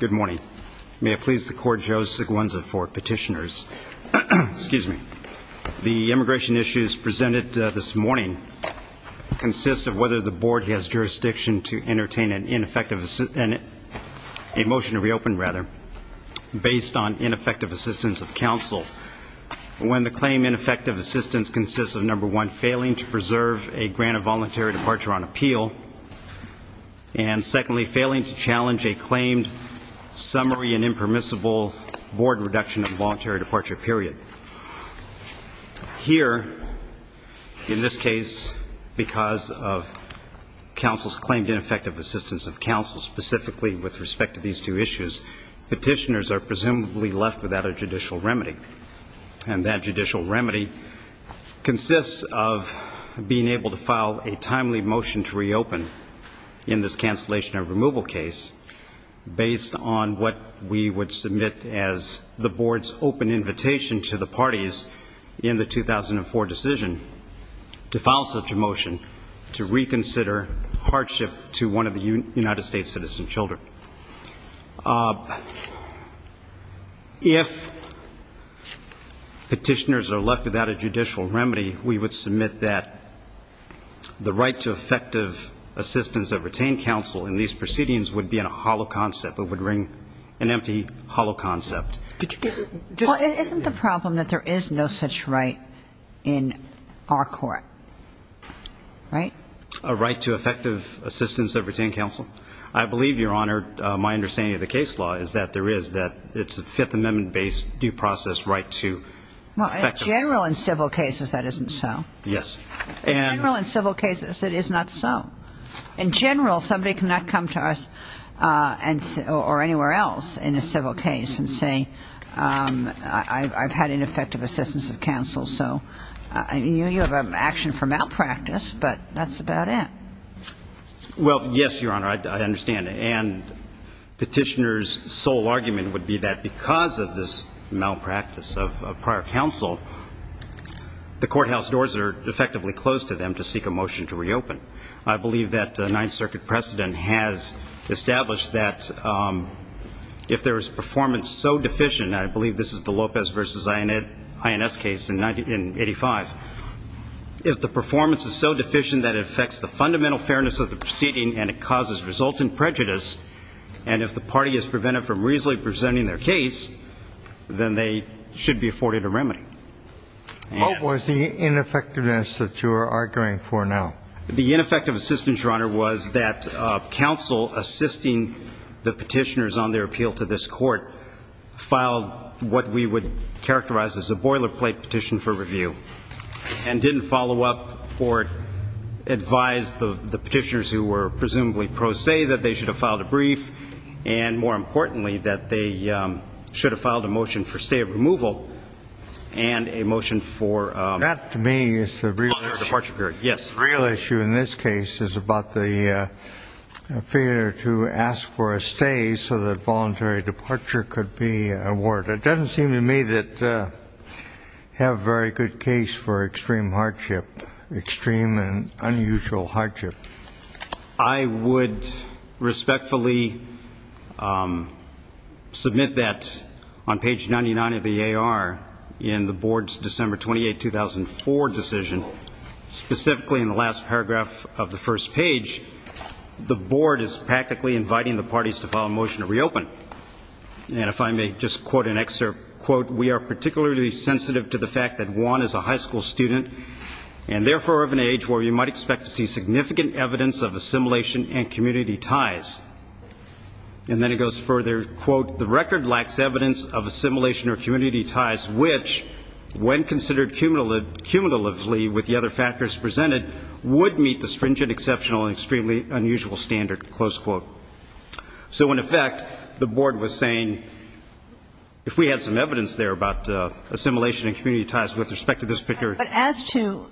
Good morning. May it please the Court, Joe Siglienza for Petitioners. The immigration issues presented this morning consist of whether the Board has jurisdiction to entertain an amendment, a motion to reopen rather, based on ineffective assistance of counsel when the claim ineffective assistance consists of, number one, failing to preserve a grant of voluntary departure on appeal, and secondly, failing to challenge a claimed summary and impermissible Board reduction of voluntary departure period. Here, in this case, because of counsel's claimed ineffective assistance of counsel specifically with respect to these two issues, Petitioners are presumably left without a judicial remedy, and that judicial remedy consists of being able to file a timely motion to reopen in this cancellation of removal case based on what we would submit as the Board's open invitation to the parties in the 2004 decision to file such a motion to reconsider hardship to one of the United States' citizen children. If Petitioners are left without a judicial remedy, we would submit that the right to effective assistance of retained counsel in these proceedings would be a hollow concept. It would ring an empty, hollow concept. Well, isn't the problem that there is no such right in our court? Right? A right to effective assistance of retained counsel? I believe, Your Honor, my understanding of the case law is that there is, that it's a Fifth Amendment-based due process right to effective assistance. Well, in general, in civil cases, that isn't so. Yes. In general, in civil cases, it is not so. In general, somebody cannot come to us or anywhere else in a civil case and say, I've had ineffective assistance of counsel. So you have an action for malpractice, but that's about it. Well, yes, Your Honor, I understand. And Petitioners' sole argument would be that because of this malpractice of prior counsel, the courthouse doors are effectively closed to them to seek a motion to reopen. I believe that the Ninth Circuit precedent has established that if there is performance so deficient, and I believe this is the Lopez v. INS case in 1985, if the performance is so deficient that it affects the fundamental fairness of the proceeding and it causes resultant prejudice, and if the party is prevented from reasonably presenting their case, then they should be afforded a remedy. What was the ineffectiveness that you are arguing for now? The ineffective assistance, Your Honor, was that counsel assisting the Petitioners on their appeal to this Court filed what we would characterize as a boilerplate petition for review, and didn't follow up or advise the Petitioners who were presumably pro se that they should have filed a brief, and more importantly, that they should have filed a motion for stay of removal and a motion for a longer departure period. That, to me, is the real issue in this case, is about the failure to ask for a stay so that voluntary departure could be awarded. It doesn't seem to me that you have a very good case for extreme hardship, extreme and unusual hardship. I would respectfully submit that on page 99 of the A.R. in the Board's December 28, 2004 decision, specifically in the last paragraph of the first page, the Board is practically inviting the parties to file a motion to reopen. And if I may just quote an excerpt, quote, we are particularly sensitive to the fact that Juan is a high school student and therefore of an age where you might expect to see significant evidence of assimilation and community ties. And then it goes further, quote, the record lacks evidence of assimilation or community ties which, when considered cumulatively with the other factors presented, would meet the stringent, exceptional, and extremely unusual standard, close quote. So in effect, the Board was saying, if we had some evidence there about assimilation and community ties with respect to this picture. But as to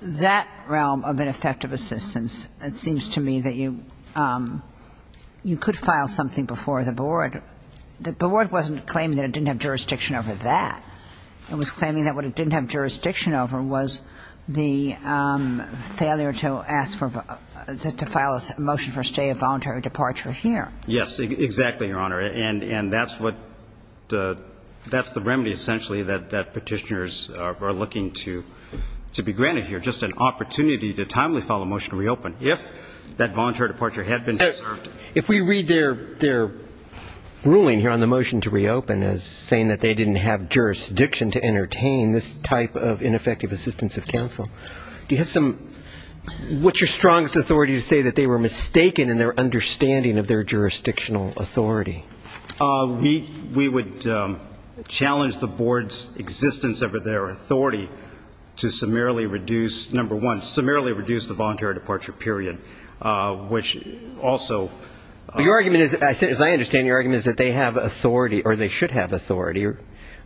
that realm of ineffective assistance, it seems to me that you could file something before the Board. The Board wasn't claiming that it didn't have jurisdiction over that. It was claiming that what it didn't have jurisdiction over was the failure to ask for to file a motion for a stay of voluntary departure here. Yes, exactly, Your Honor. And that's what the that's the remedy, essentially, that petitioners are looking to be granted here, just an opportunity to timely file a motion to reopen if that voluntary departure had been observed. If we read their ruling here on the motion to reopen as saying that they didn't have jurisdiction to entertain this type of ineffective assistance of counsel, do you have some what's your strongest authority to say that they were mistaken in their understanding of their jurisdictional authority? We would challenge the Board's existence over their authority to summarily reduce, number one, summarily reduce the voluntary departure period, which also... Your argument is, as I understand, your argument is that they have authority or they should have authority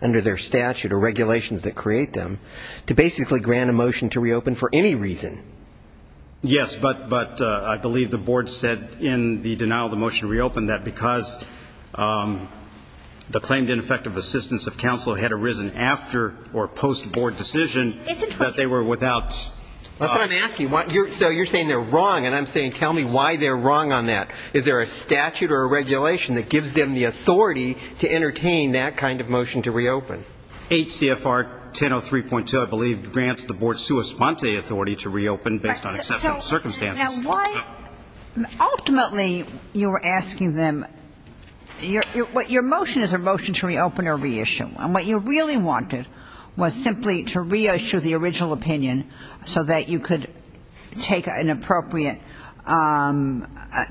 under their statute or regulations that create them to basically grant a motion to reopen for any reason. Yes, but but I believe the Board said in the denial of the motion to reopen that because the claimed ineffective assistance of counsel had arisen after or post-Board decision that they were without... That's what I'm asking. So you're saying they're wrong, and I'm saying tell me why they're wrong on that. Is there a statute or a regulation that gives them the authority to entertain that kind of motion to reopen? H.C.F.R. 1003.2, I believe, grants the Board's sua sponte authority to reopen based on exceptional circumstances. Ultimately, you were asking them, your motion is a motion to reopen or reissue, and what you really wanted was simply to reissue the original opinion so that you could take an appropriate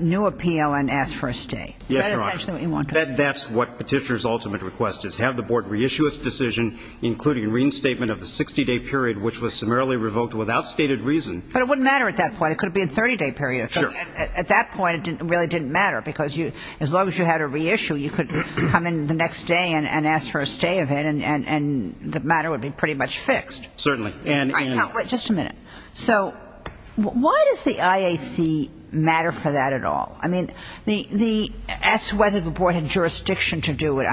new appeal and ask for a stay. That's essentially what you wanted. The Board's request is have the Board reissue its decision, including reinstatement of the 60-day period, which was summarily revoked without stated reason. But it wouldn't matter at that point. It could have been a 30-day period. At that point, it really didn't matter because as long as you had a reissue, you could come in the next day and ask for a stay of it, and the matter would be pretty much fixed. Certainly. Just a minute. So why does the IAC matter for that at all? I mean, the ask whether the Board has jurisdiction. I mean,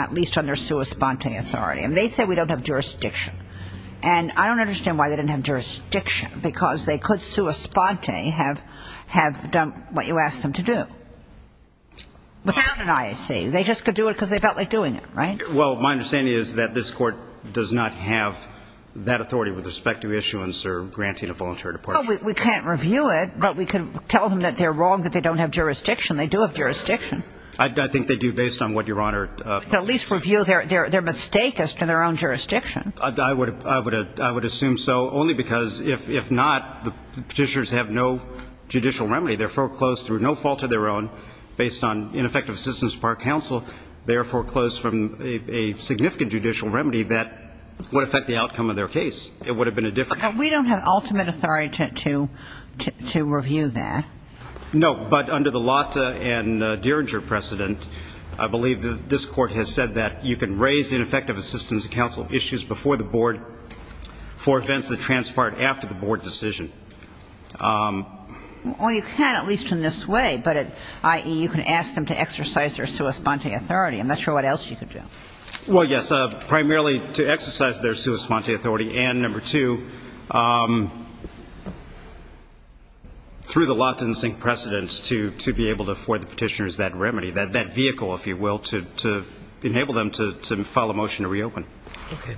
I don't understand why they don't have jurisdiction, because they could sua sponte have done what you asked them to do without an IAC. They just could do it because they felt like doing it, right? Well, my understanding is that this Court does not have that authority with respect to issuance or granting a voluntary departure. Well, we can't review it, but we can tell them that they're wrong, that they don't have jurisdiction. They do have jurisdiction. I think they do, based on what Your Honor told us. We can at least review their mistake as to their own jurisdiction. I would assume so, only because if not, the Petitioners have no judicial remedy. They're foreclosed through no fault of their own, based on ineffective assistance from our counsel. They are foreclosed from a significant judicial remedy that would affect the outcome of their case. It would have been a different case. We don't have ultimate authority to review that. No, but under the Lotta and Dieringer precedent, I believe this Court has said that you can raise ineffective assistance to counsel issues before the board for events that transpire after the board decision. Well, you can at least in this way, but at IE, you can ask them to exercise their sua sponte authority. I'm not sure what else you could do. Well, yes, primarily to exercise their sua sponte authority, and number two, through the Lotta and Dieringer precedent, to be able to afford the Petitioners that remedy, that vehicle, if you will, to enable them to file a motion to reopen. Okay.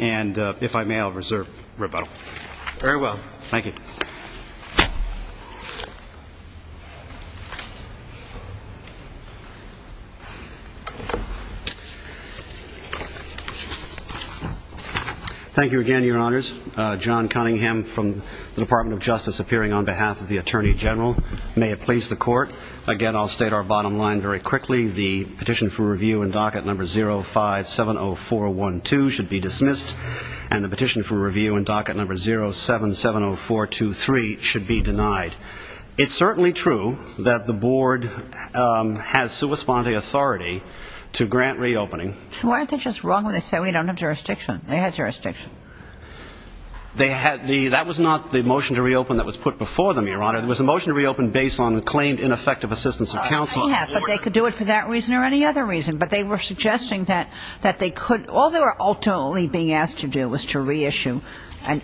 And if I may, I'll reserve rebuttal. Very well. Thank you. Thank you again, Your Honors. John Cunningham from the Department of Justice appearing on behalf of the Attorney General. May it please the Court. Again, I'll state our bottom line very quickly. The petition for review in docket number 0570412 should be dismissed, and the petition for review in docket number 0770423 should be denied. It's certainly true that the board has sua sponte authority to grant reopening. So why aren't they just wrong when they say we don't have jurisdiction? They had jurisdiction. That was not the motion to reopen that was put before them, Your Honor. It was a motion to reopen based on the claimed ineffective assistance of counsel. Yeah, but they could do it for that reason or any other reason. But they were suggesting that they could ñ all they were ultimately being asked to do was to reissue,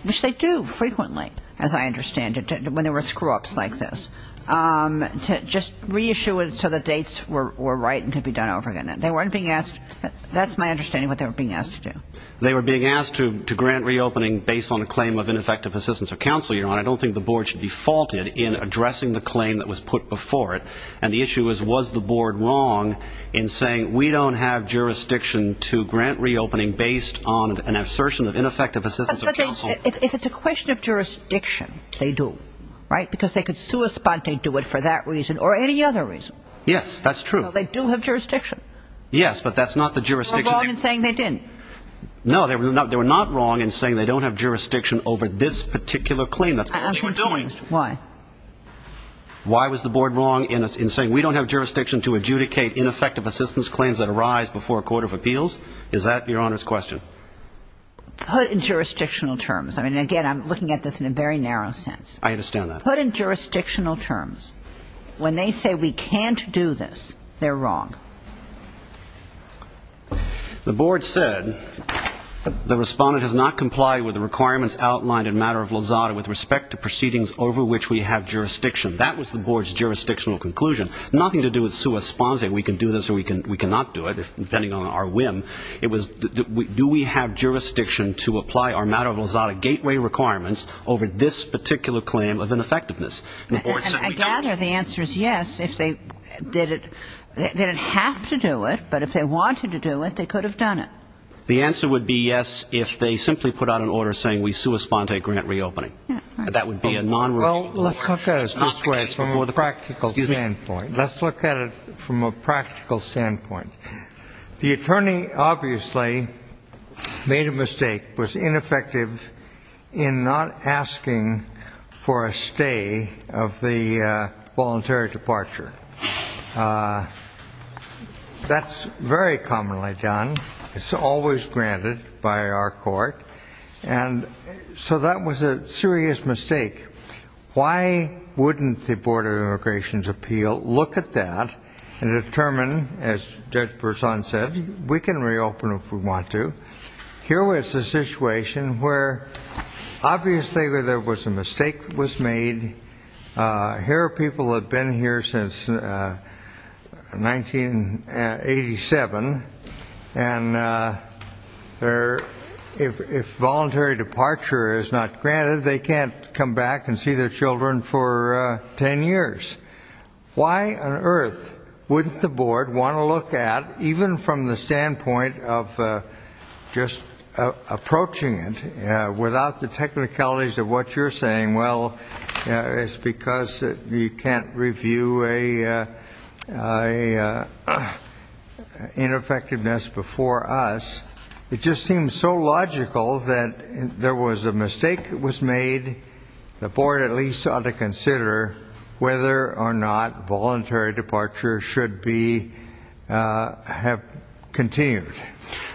which they do frequently, as I understand it, when there were screw-ups like this, to just reissue it so the dates were right and could be done over again. They weren't being asked ñ that's my understanding of what they were being asked to do. They were being asked to grant reopening based on a claim of ineffective assistance of counsel, Your Honor. I don't think the board should be faulted in addressing the claim that was put before it. And the issue is was the board wrong in saying we don't have jurisdiction to grant reopening based on an assertion of ineffective assistance of counsel. But if it's a question of jurisdiction, they do, right, because they could sua sponte do it for that reason or any other reason. Yes, that's true. Well, they do have jurisdiction. Yes, but that's not the jurisdiction ñ They were wrong in saying they didn't. No, they were not wrong in saying they don't have jurisdiction over this particular claim. That's what you were doing. Why? Why was the board wrong in saying we don't have jurisdiction to adjudicate ineffective assistance claims that arise before a court of appeals? Is that Your Honor's question? Put in jurisdictional terms. I mean, again, I'm looking at this in a very narrow sense. I understand that. Put in jurisdictional terms. When they say we can't do this, they're wrong. The board said the respondent has not complied with the requirements outlined in matter of lozada with respect to proceedings over which we have jurisdiction. That was the board's jurisdictional conclusion. Nothing to do with sua sponte, we can do this or we cannot do it, depending on our whim. It was do we have jurisdiction to apply our matter of lozada gateway requirements over this particular claim of ineffectiveness. And the board said we don't. And I gather the answer is yes if they didn't have to do it. But if they wanted to do it, they could have done it. The answer would be yes if they simply put out an order saying we sua sponte grant reopening. That would be a non-rule. Well, let's look at it from a practical standpoint. Let's look at it from a practical standpoint. The attorney obviously made a mistake, was ineffective in not asking for a stay of the voluntary departure. That's very commonly done. It's always granted by our court. And so that was a serious mistake. Why wouldn't the Board of Immigration's appeal look at that and determine, as Judge Berzon said, we can reopen if we want to. Here was a situation where obviously there was a mistake that was made. Here are people that have been here since 1987. And if voluntary departure is not granted, they can't come back and see their children for 10 years. Why on earth wouldn't the board want to look at, even from the standpoint of just approaching it, without the technicalities of what you're saying, well, it's because you can't review an ineffectiveness before us. It just seems so logical that there was a mistake that was made. The board at least ought to consider whether or not voluntary departure should have continued.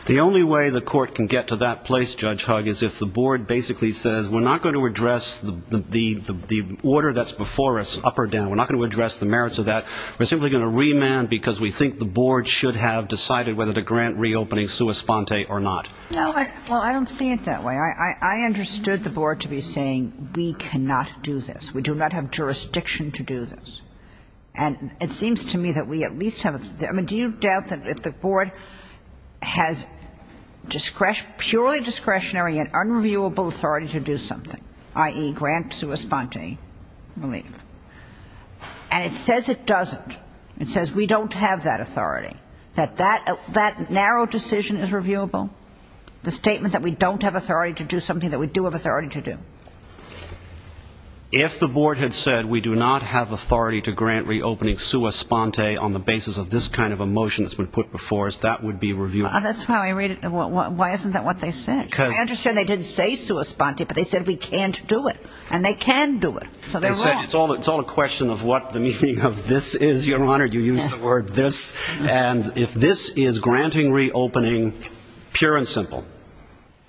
The only way the court can get to that place, Judge Hugg, is if the board basically says we're not going to address the order that's before us, up or down. We're not going to address the merits of that. We're simply going to remand because we think the board should have decided whether to grant reopening sua sponte or not. Well, I don't see it that way. I understood the board to be saying we cannot do this. We do not have jurisdiction to do this. And it seems to me that we at least have a do you doubt that if the board has purely discretionary and unreviewable authority to do something, i.e., grant sua sponte relief, and it says it doesn't, it says we don't have that authority, that that narrow decision is reviewable, the statement that we don't have authority to do something that we do have authority to do? If the board had said we do not have authority to grant reopening sua sponte on the basis of this kind of a motion that's been put before us, that would be reviewable. That's how I read it. Why isn't that what they said? I understand they didn't say sua sponte, but they said we can't do it. And they can do it. So they're wrong. It's all a question of what the meaning of this is, Your Honor. You used the word this. And if this is granting reopening pure and simple,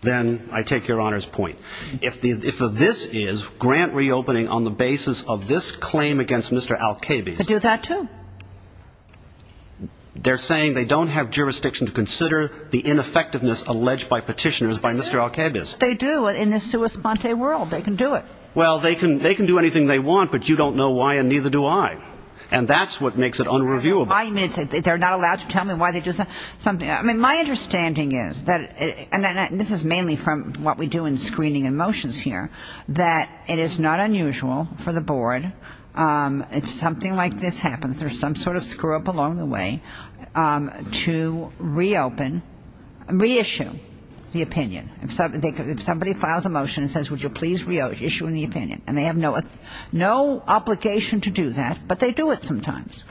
then I take Your Honor's point. If this is grant reopening on the basis of this claim against Mr. Alcabez. They do that, too. They're saying they don't have jurisdiction to consider the ineffectiveness alleged by petitioners by Mr. Alcabez. They do in the sua sponte world. They can do it. Well, they can do anything they want, but you don't know why, and neither do I. And that's what makes it unreviewable. They're not allowed to tell me why they do something. I mean, my understanding is, and this is mainly from what we do in screening and motions here, that it is not unusual for the board, if something like this happens, there's some sort of screw-up along the way, to reopen, reissue the opinion. If somebody files a motion and says would you please reissue the opinion, and they have no obligation to do that, but they do it sometimes.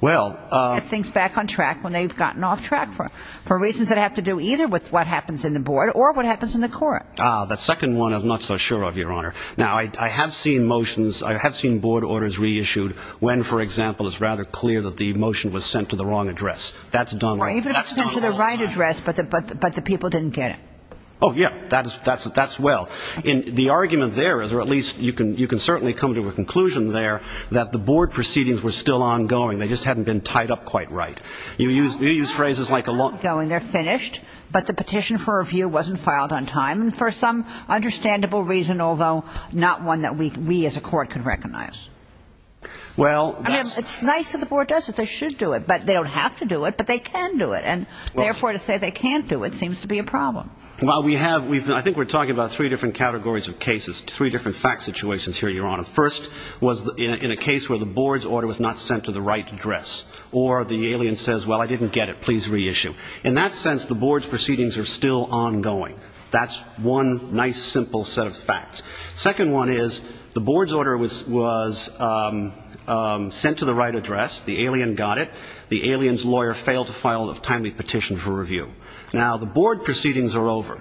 Well. Get things back on track when they've gotten off track for reasons that have to do either with what happens in the board or what happens in the court. The second one I'm not so sure of, Your Honor. Now, I have seen motions, I have seen board orders reissued when, for example, it's rather clear that the motion was sent to the wrong address. That's done right. Even if it's sent to the right address, but the people didn't get it. Oh, yeah. That's well. The argument there is, or at least you can certainly come to a conclusion there, that the board proceedings were still ongoing. They just hadn't been tied up quite right. You use phrases like a long. They're ongoing. They're finished. But the petition for review wasn't filed on time, and for some understandable reason, although not one that we as a court could recognize. Well, that's. I mean, it's nice that the board does it. They should do it. But they don't have to do it, but they can do it. And, therefore, to say they can't do it seems to be a problem. Well, we have. I think we're talking about three different categories of cases, three different fact situations here, Your Honor. First was in a case where the board's order was not sent to the right address, or the alien says, well, I didn't get it. Please reissue. In that sense, the board's proceedings are still ongoing. That's one nice, simple set of facts. Second one is the board's order was sent to the right address. The alien got it. The alien's lawyer failed to file a timely petition for review. Now, the board proceedings are over.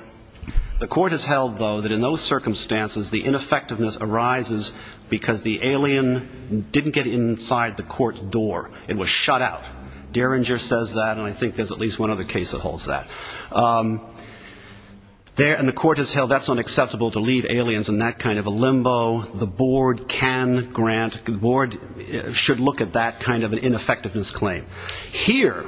The court has held, though, that in those circumstances, the ineffectiveness arises because the alien didn't get inside the court door. It was shut out. Derringer says that, and I think there's at least one other case that holds that. And the court has held that's unacceptable to leave aliens in that kind of a limbo. The board can grant. The board should look at that kind of an ineffectiveness claim. Here,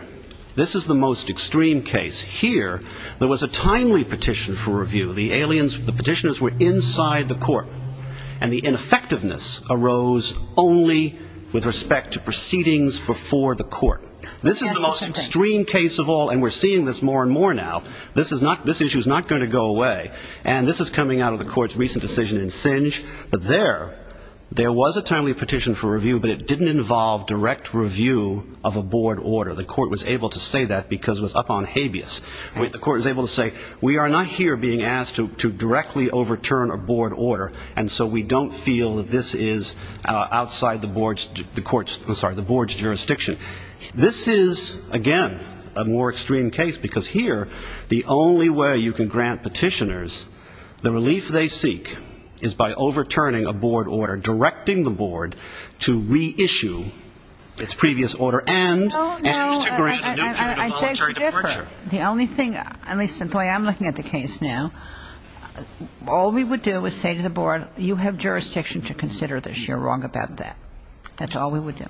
this is the most extreme case. Here, there was a timely petition for review. The petitioners were inside the court. And the ineffectiveness arose only with respect to proceedings before the court. This is the most extreme case of all, and we're seeing this more and more now. This issue is not going to go away. And this is coming out of the court's recent decision in Singe. But there, there was a timely petition for review, but it didn't involve direct review of a board order. The court was able to say that because it was up on habeas. The court was able to say, we are not here being asked to directly overturn a board order, and so we don't feel that this is outside the board's jurisdiction. This is, again, a more extreme case because here the only way you can grant petitioners the relief they seek is by overturning a board order, directing the board to reissue its previous order and to grant a new petition of voluntary departure. The only thing, at least in the way I'm looking at the case now, all we would do is say to the board, you have jurisdiction to consider this. You're wrong about that. That's all we would do.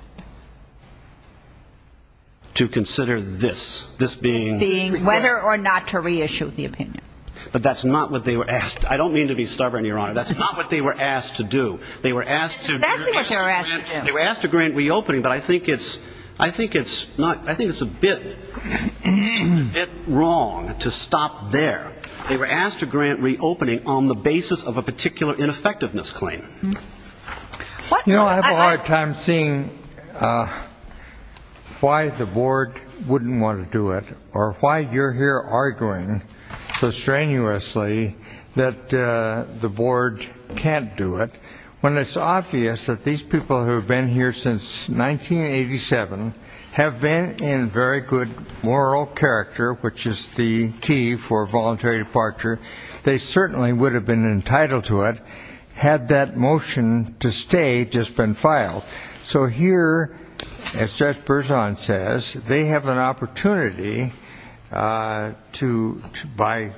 To consider this. This being whether or not to reissue the opinion. But that's not what they were asked. I don't mean to be stubborn, Your Honor. That's not what they were asked to do. They were asked to grant reopening, but I think it's a bit wrong to stop there. They were asked to grant reopening on the basis of a particular ineffectiveness claim. You know, I have a hard time seeing why the board wouldn't want to do it or why you're here arguing so strenuously that the board can't do it when it's obvious that these people who have been here since 1987 have been in very good moral character, which is the key for voluntary departure. They certainly would have been entitled to it had that motion to stay just been filed. So here, as Judge Berzon says, they have an opportunity to, by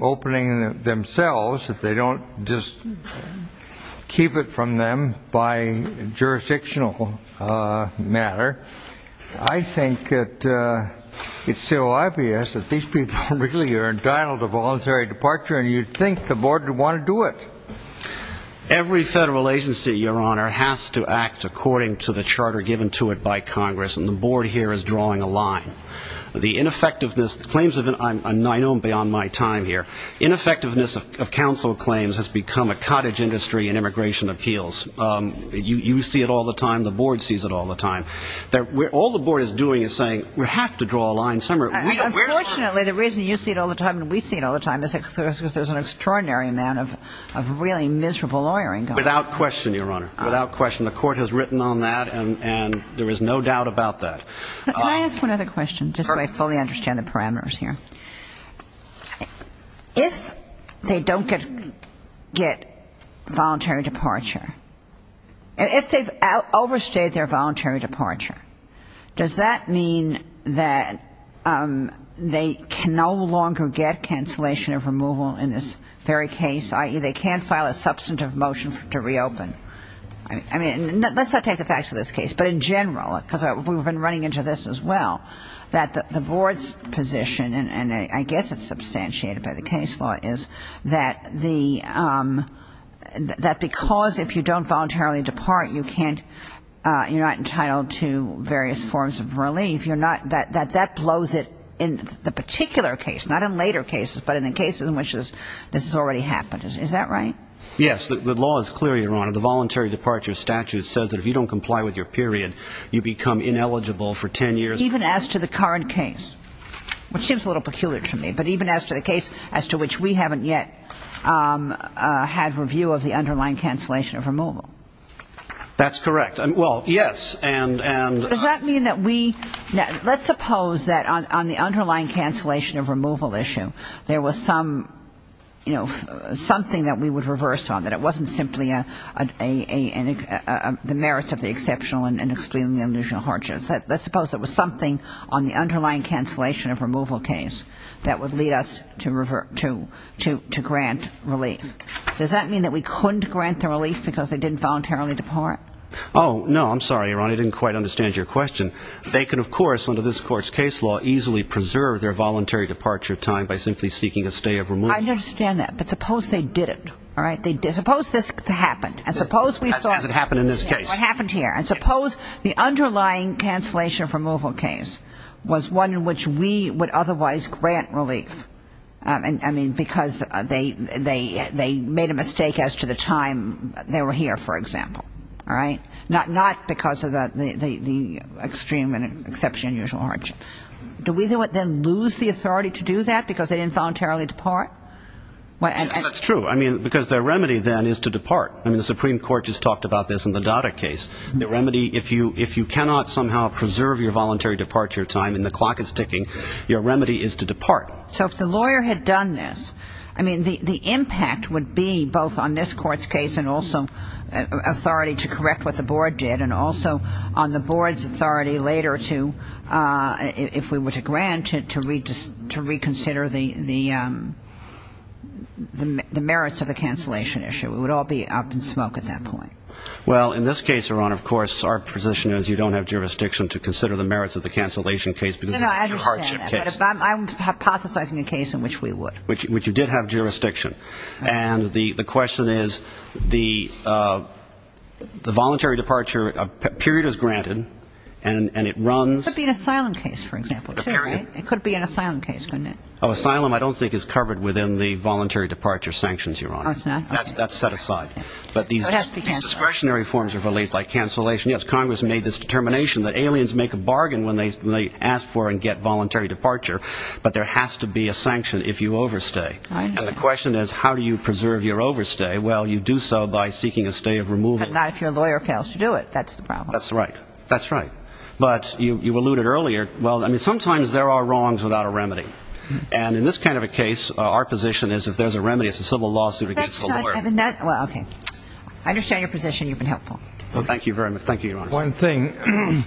opening themselves, if they don't just keep it from them by jurisdictional matter, I think that it's so obvious that these people really are entitled to voluntary departure and you'd think the board would want to do it. Every federal agency, Your Honor, has to act according to the charter given to it by Congress, and the board here is drawing a line. The ineffectiveness claims, I know beyond my time here, ineffectiveness of counsel claims has become a cottage industry in immigration appeals. You see it all the time. The board sees it all the time. All the board is doing is saying we have to draw a line somewhere. Unfortunately, the reason you see it all the time and we see it all the time is because there's an extraordinary amount of really miserable lawyering going on. Without question, Your Honor. Without question. The court has written on that and there is no doubt about that. Can I ask one other question just so I fully understand the parameters here? If they don't get voluntary departure, if they've overstayed their voluntary departure, does that mean that they can no longer get cancellation of removal in this very case, i.e., they can't file a substantive motion to reopen? I mean, let's not take the facts of this case, but in general, because we've been running into this as well, that the board's position, and I guess it's substantiated by the case law, is that because if you don't voluntarily depart, you're not entitled to various forms of relief. That that blows it in the particular case, not in later cases, but in the cases in which this has already happened. Is that right? Yes. The law is clear, Your Honor. The voluntary departure statute says that if you don't comply with your period, you become ineligible for 10 years. Even as to the current case, which seems a little peculiar to me, but even as to the case as to which we haven't yet had review of, the underlying cancellation of removal. That's correct. Well, yes. Does that mean that we ñ let's suppose that on the underlying cancellation of removal issue, there was some, you know, something that we would reverse on, that it wasn't simply the merits of the exceptional and excluding the illusional hardships. Let's suppose there was something on the underlying cancellation of removal case that would lead us to grant relief. Does that mean that we couldn't grant the relief because they didn't voluntarily depart? Oh, no. I'm sorry, Your Honor. I didn't quite understand your question. They can, of course, under this court's case law, easily preserve their voluntary departure time by simply seeking a stay of removal. I understand that. But suppose they didn't. All right? Suppose this happened. Has it happened in this case? It happened here. And suppose the underlying cancellation of removal case was one in which we would otherwise grant relief. I mean, because they made a mistake as to the time they were here, for example. All right? Not because of the extreme and exceptional and unusual hardship. Do we then lose the authority to do that because they didn't voluntarily depart? That's true. I mean, because their remedy then is to depart. I mean, the Supreme Court just talked about this in the Dada case. The remedy, if you cannot somehow preserve your voluntary departure time and the clock is ticking, your remedy is to depart. So if the lawyer had done this, I mean, the impact would be both on this court's case and also authority to correct what the board did, and also on the board's authority later to, if we were to grant it, to reconsider the merits of the cancellation issue. We would all be up in smoke at that point. Well, in this case, Your Honor, of course, our position is you don't have jurisdiction to consider the merits of the cancellation case because of the hardship case. No, no, I understand that. But I'm hypothesizing a case in which we would. Which you did have jurisdiction. And the question is the voluntary departure period is granted, and it runs. It could be an asylum case, for example, too, right? A period. It could be an asylum case, couldn't it? Oh, asylum I don't think is covered within the voluntary departure sanctions, Your Honor. Oh, it's not? That's set aside. But these discretionary forms of relief, like cancellation, yes, Congress made this determination that aliens make a bargain when they ask for and get voluntary departure, but there has to be a sanction if you overstay. And the question is how do you preserve your overstay? Well, you do so by seeking a stay of removal. But not if your lawyer fails to do it. That's the problem. That's right. That's right. But you alluded earlier, well, I mean, sometimes there are wrongs without a remedy. And in this kind of a case, our position is if there's a remedy, it's a civil lawsuit against the lawyer. Well, okay. I understand your position. You've been helpful. Well, thank you very much. Thank you, Your Honor. One thing,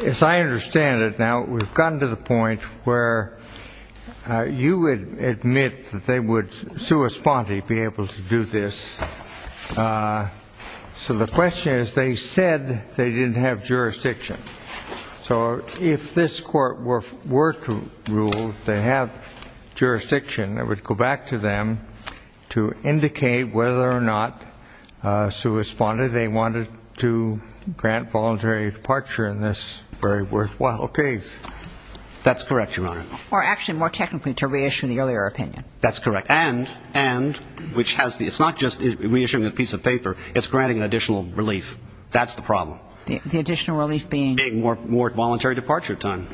as I understand it now, we've gotten to the point where you would admit that they would sui sponte be able to do this. So the question is they said they didn't have jurisdiction. So if this court were to rule they have jurisdiction, it would go back to them to indicate whether or not sui sponte, they wanted to grant voluntary departure in this very worthwhile case. That's correct, Your Honor. Or actually more technically to reissue the earlier opinion. That's correct. And which has the ‑‑ it's not just reissuing a piece of paper. It's granting an additional relief. That's the problem. The additional relief being? Being more voluntary departure time.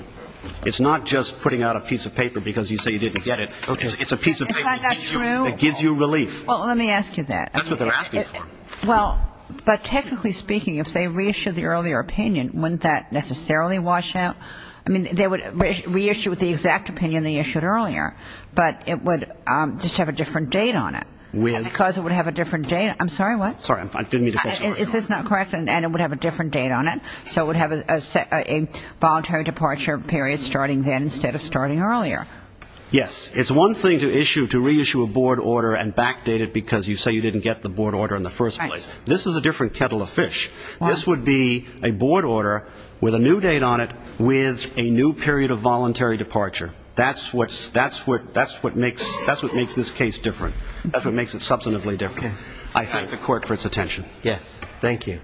It's not just putting out a piece of paper because you say you didn't get it. It's a piece of paper that gives you relief. Well, let me ask you that. That's what they're asking for. Well, but technically speaking, if they reissued the earlier opinion, wouldn't that necessarily wash out? I mean, they would reissue it with the exact opinion they issued earlier, but it would just have a different date on it. Because it would have a different date. I'm sorry, what? Sorry, I didn't mean to push the question. Is this not correct? And it would have a different date on it. So it would have a voluntary departure period starting then instead of starting earlier. Yes. It's one thing to reissue a board order and backdate it because you say you didn't get the board order in the first place. This is a different kettle of fish. This would be a board order with a new date on it with a new period of voluntary departure. That's what makes this case different. That's what makes it substantively different. I thank the Court for its attention. Yes. Thank you.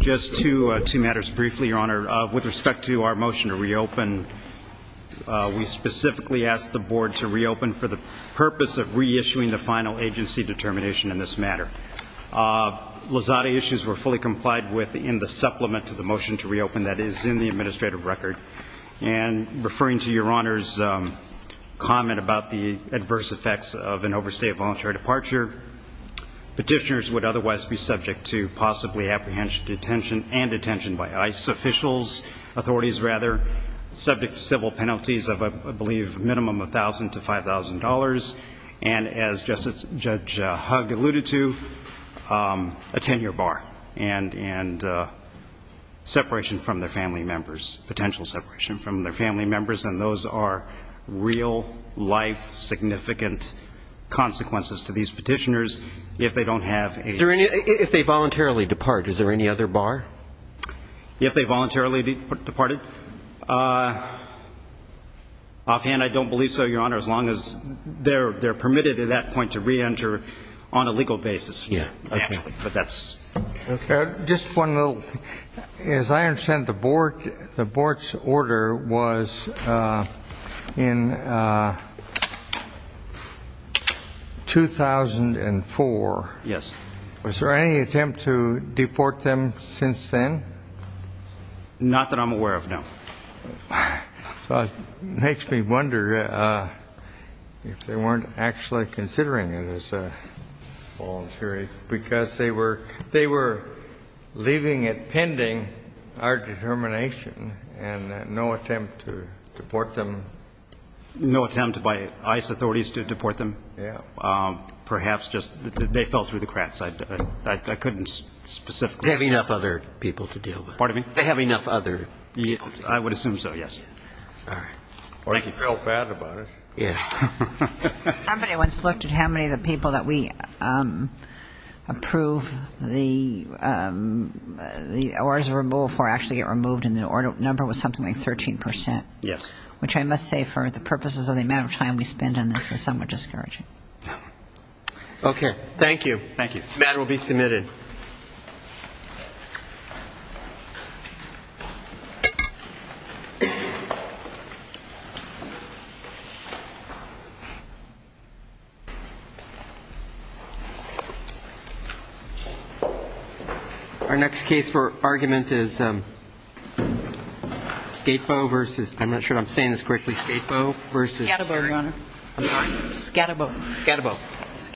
Just two matters briefly, Your Honor. With respect to our motion to reopen, we specifically asked the board to reopen for the purpose of reissuing the final agency determination in this matter. Lozada issues were fully complied with in the supplement to the motion to reopen that is in the administrative record. And referring to Your Honor's comment about the adverse effects of an overstated voluntary departure, petitioners would otherwise be subject to possibly apprehension and detention by ICE officials, authorities rather, subject to civil penalties of, I believe, a minimum of $1,000 to $5,000, and as Judge Hugg alluded to, a 10-year bar and separation from their family members, potential separation from their family members. And those are real-life significant consequences to these petitioners if they don't have a ---- If they voluntarily depart, is there any other bar? If they voluntarily departed. Offhand, I don't believe so, Your Honor, as long as they're permitted at that point to reenter on a legal basis, naturally. But that's ---- Okay. Just one little thing. As I understand, the Board's order was in 2004. Yes. Was there any attempt to deport them since then? Not that I'm aware of, no. So it makes me wonder if they weren't actually considering it as voluntary because they were leaving it pending, our determination, and no attempt to deport them. No attempt by ICE authorities to deport them? Yeah. Perhaps just they fell through the cracks. I couldn't specifically ---- They have enough other people to deal with. Pardon me? They have enough other people to deal with. I would assume so, yes. All right. Or they felt bad about it. Yeah. Somebody once looked at how many of the people that we approve the orders of removal for actually get removed, and the order number was something like 13%. Yes. Which I must say, for the purposes of the amount of time we spend on this, is somewhat discouraging. Okay. Thank you. The matter will be submitted. Thank you. Our next case for argument is Scapego versus ---- I'm not sure if I'm saying this correctly. Scapego versus ---- Scatterbo, Your Honor. I'm sorry. Scatterbo. Scatterbo.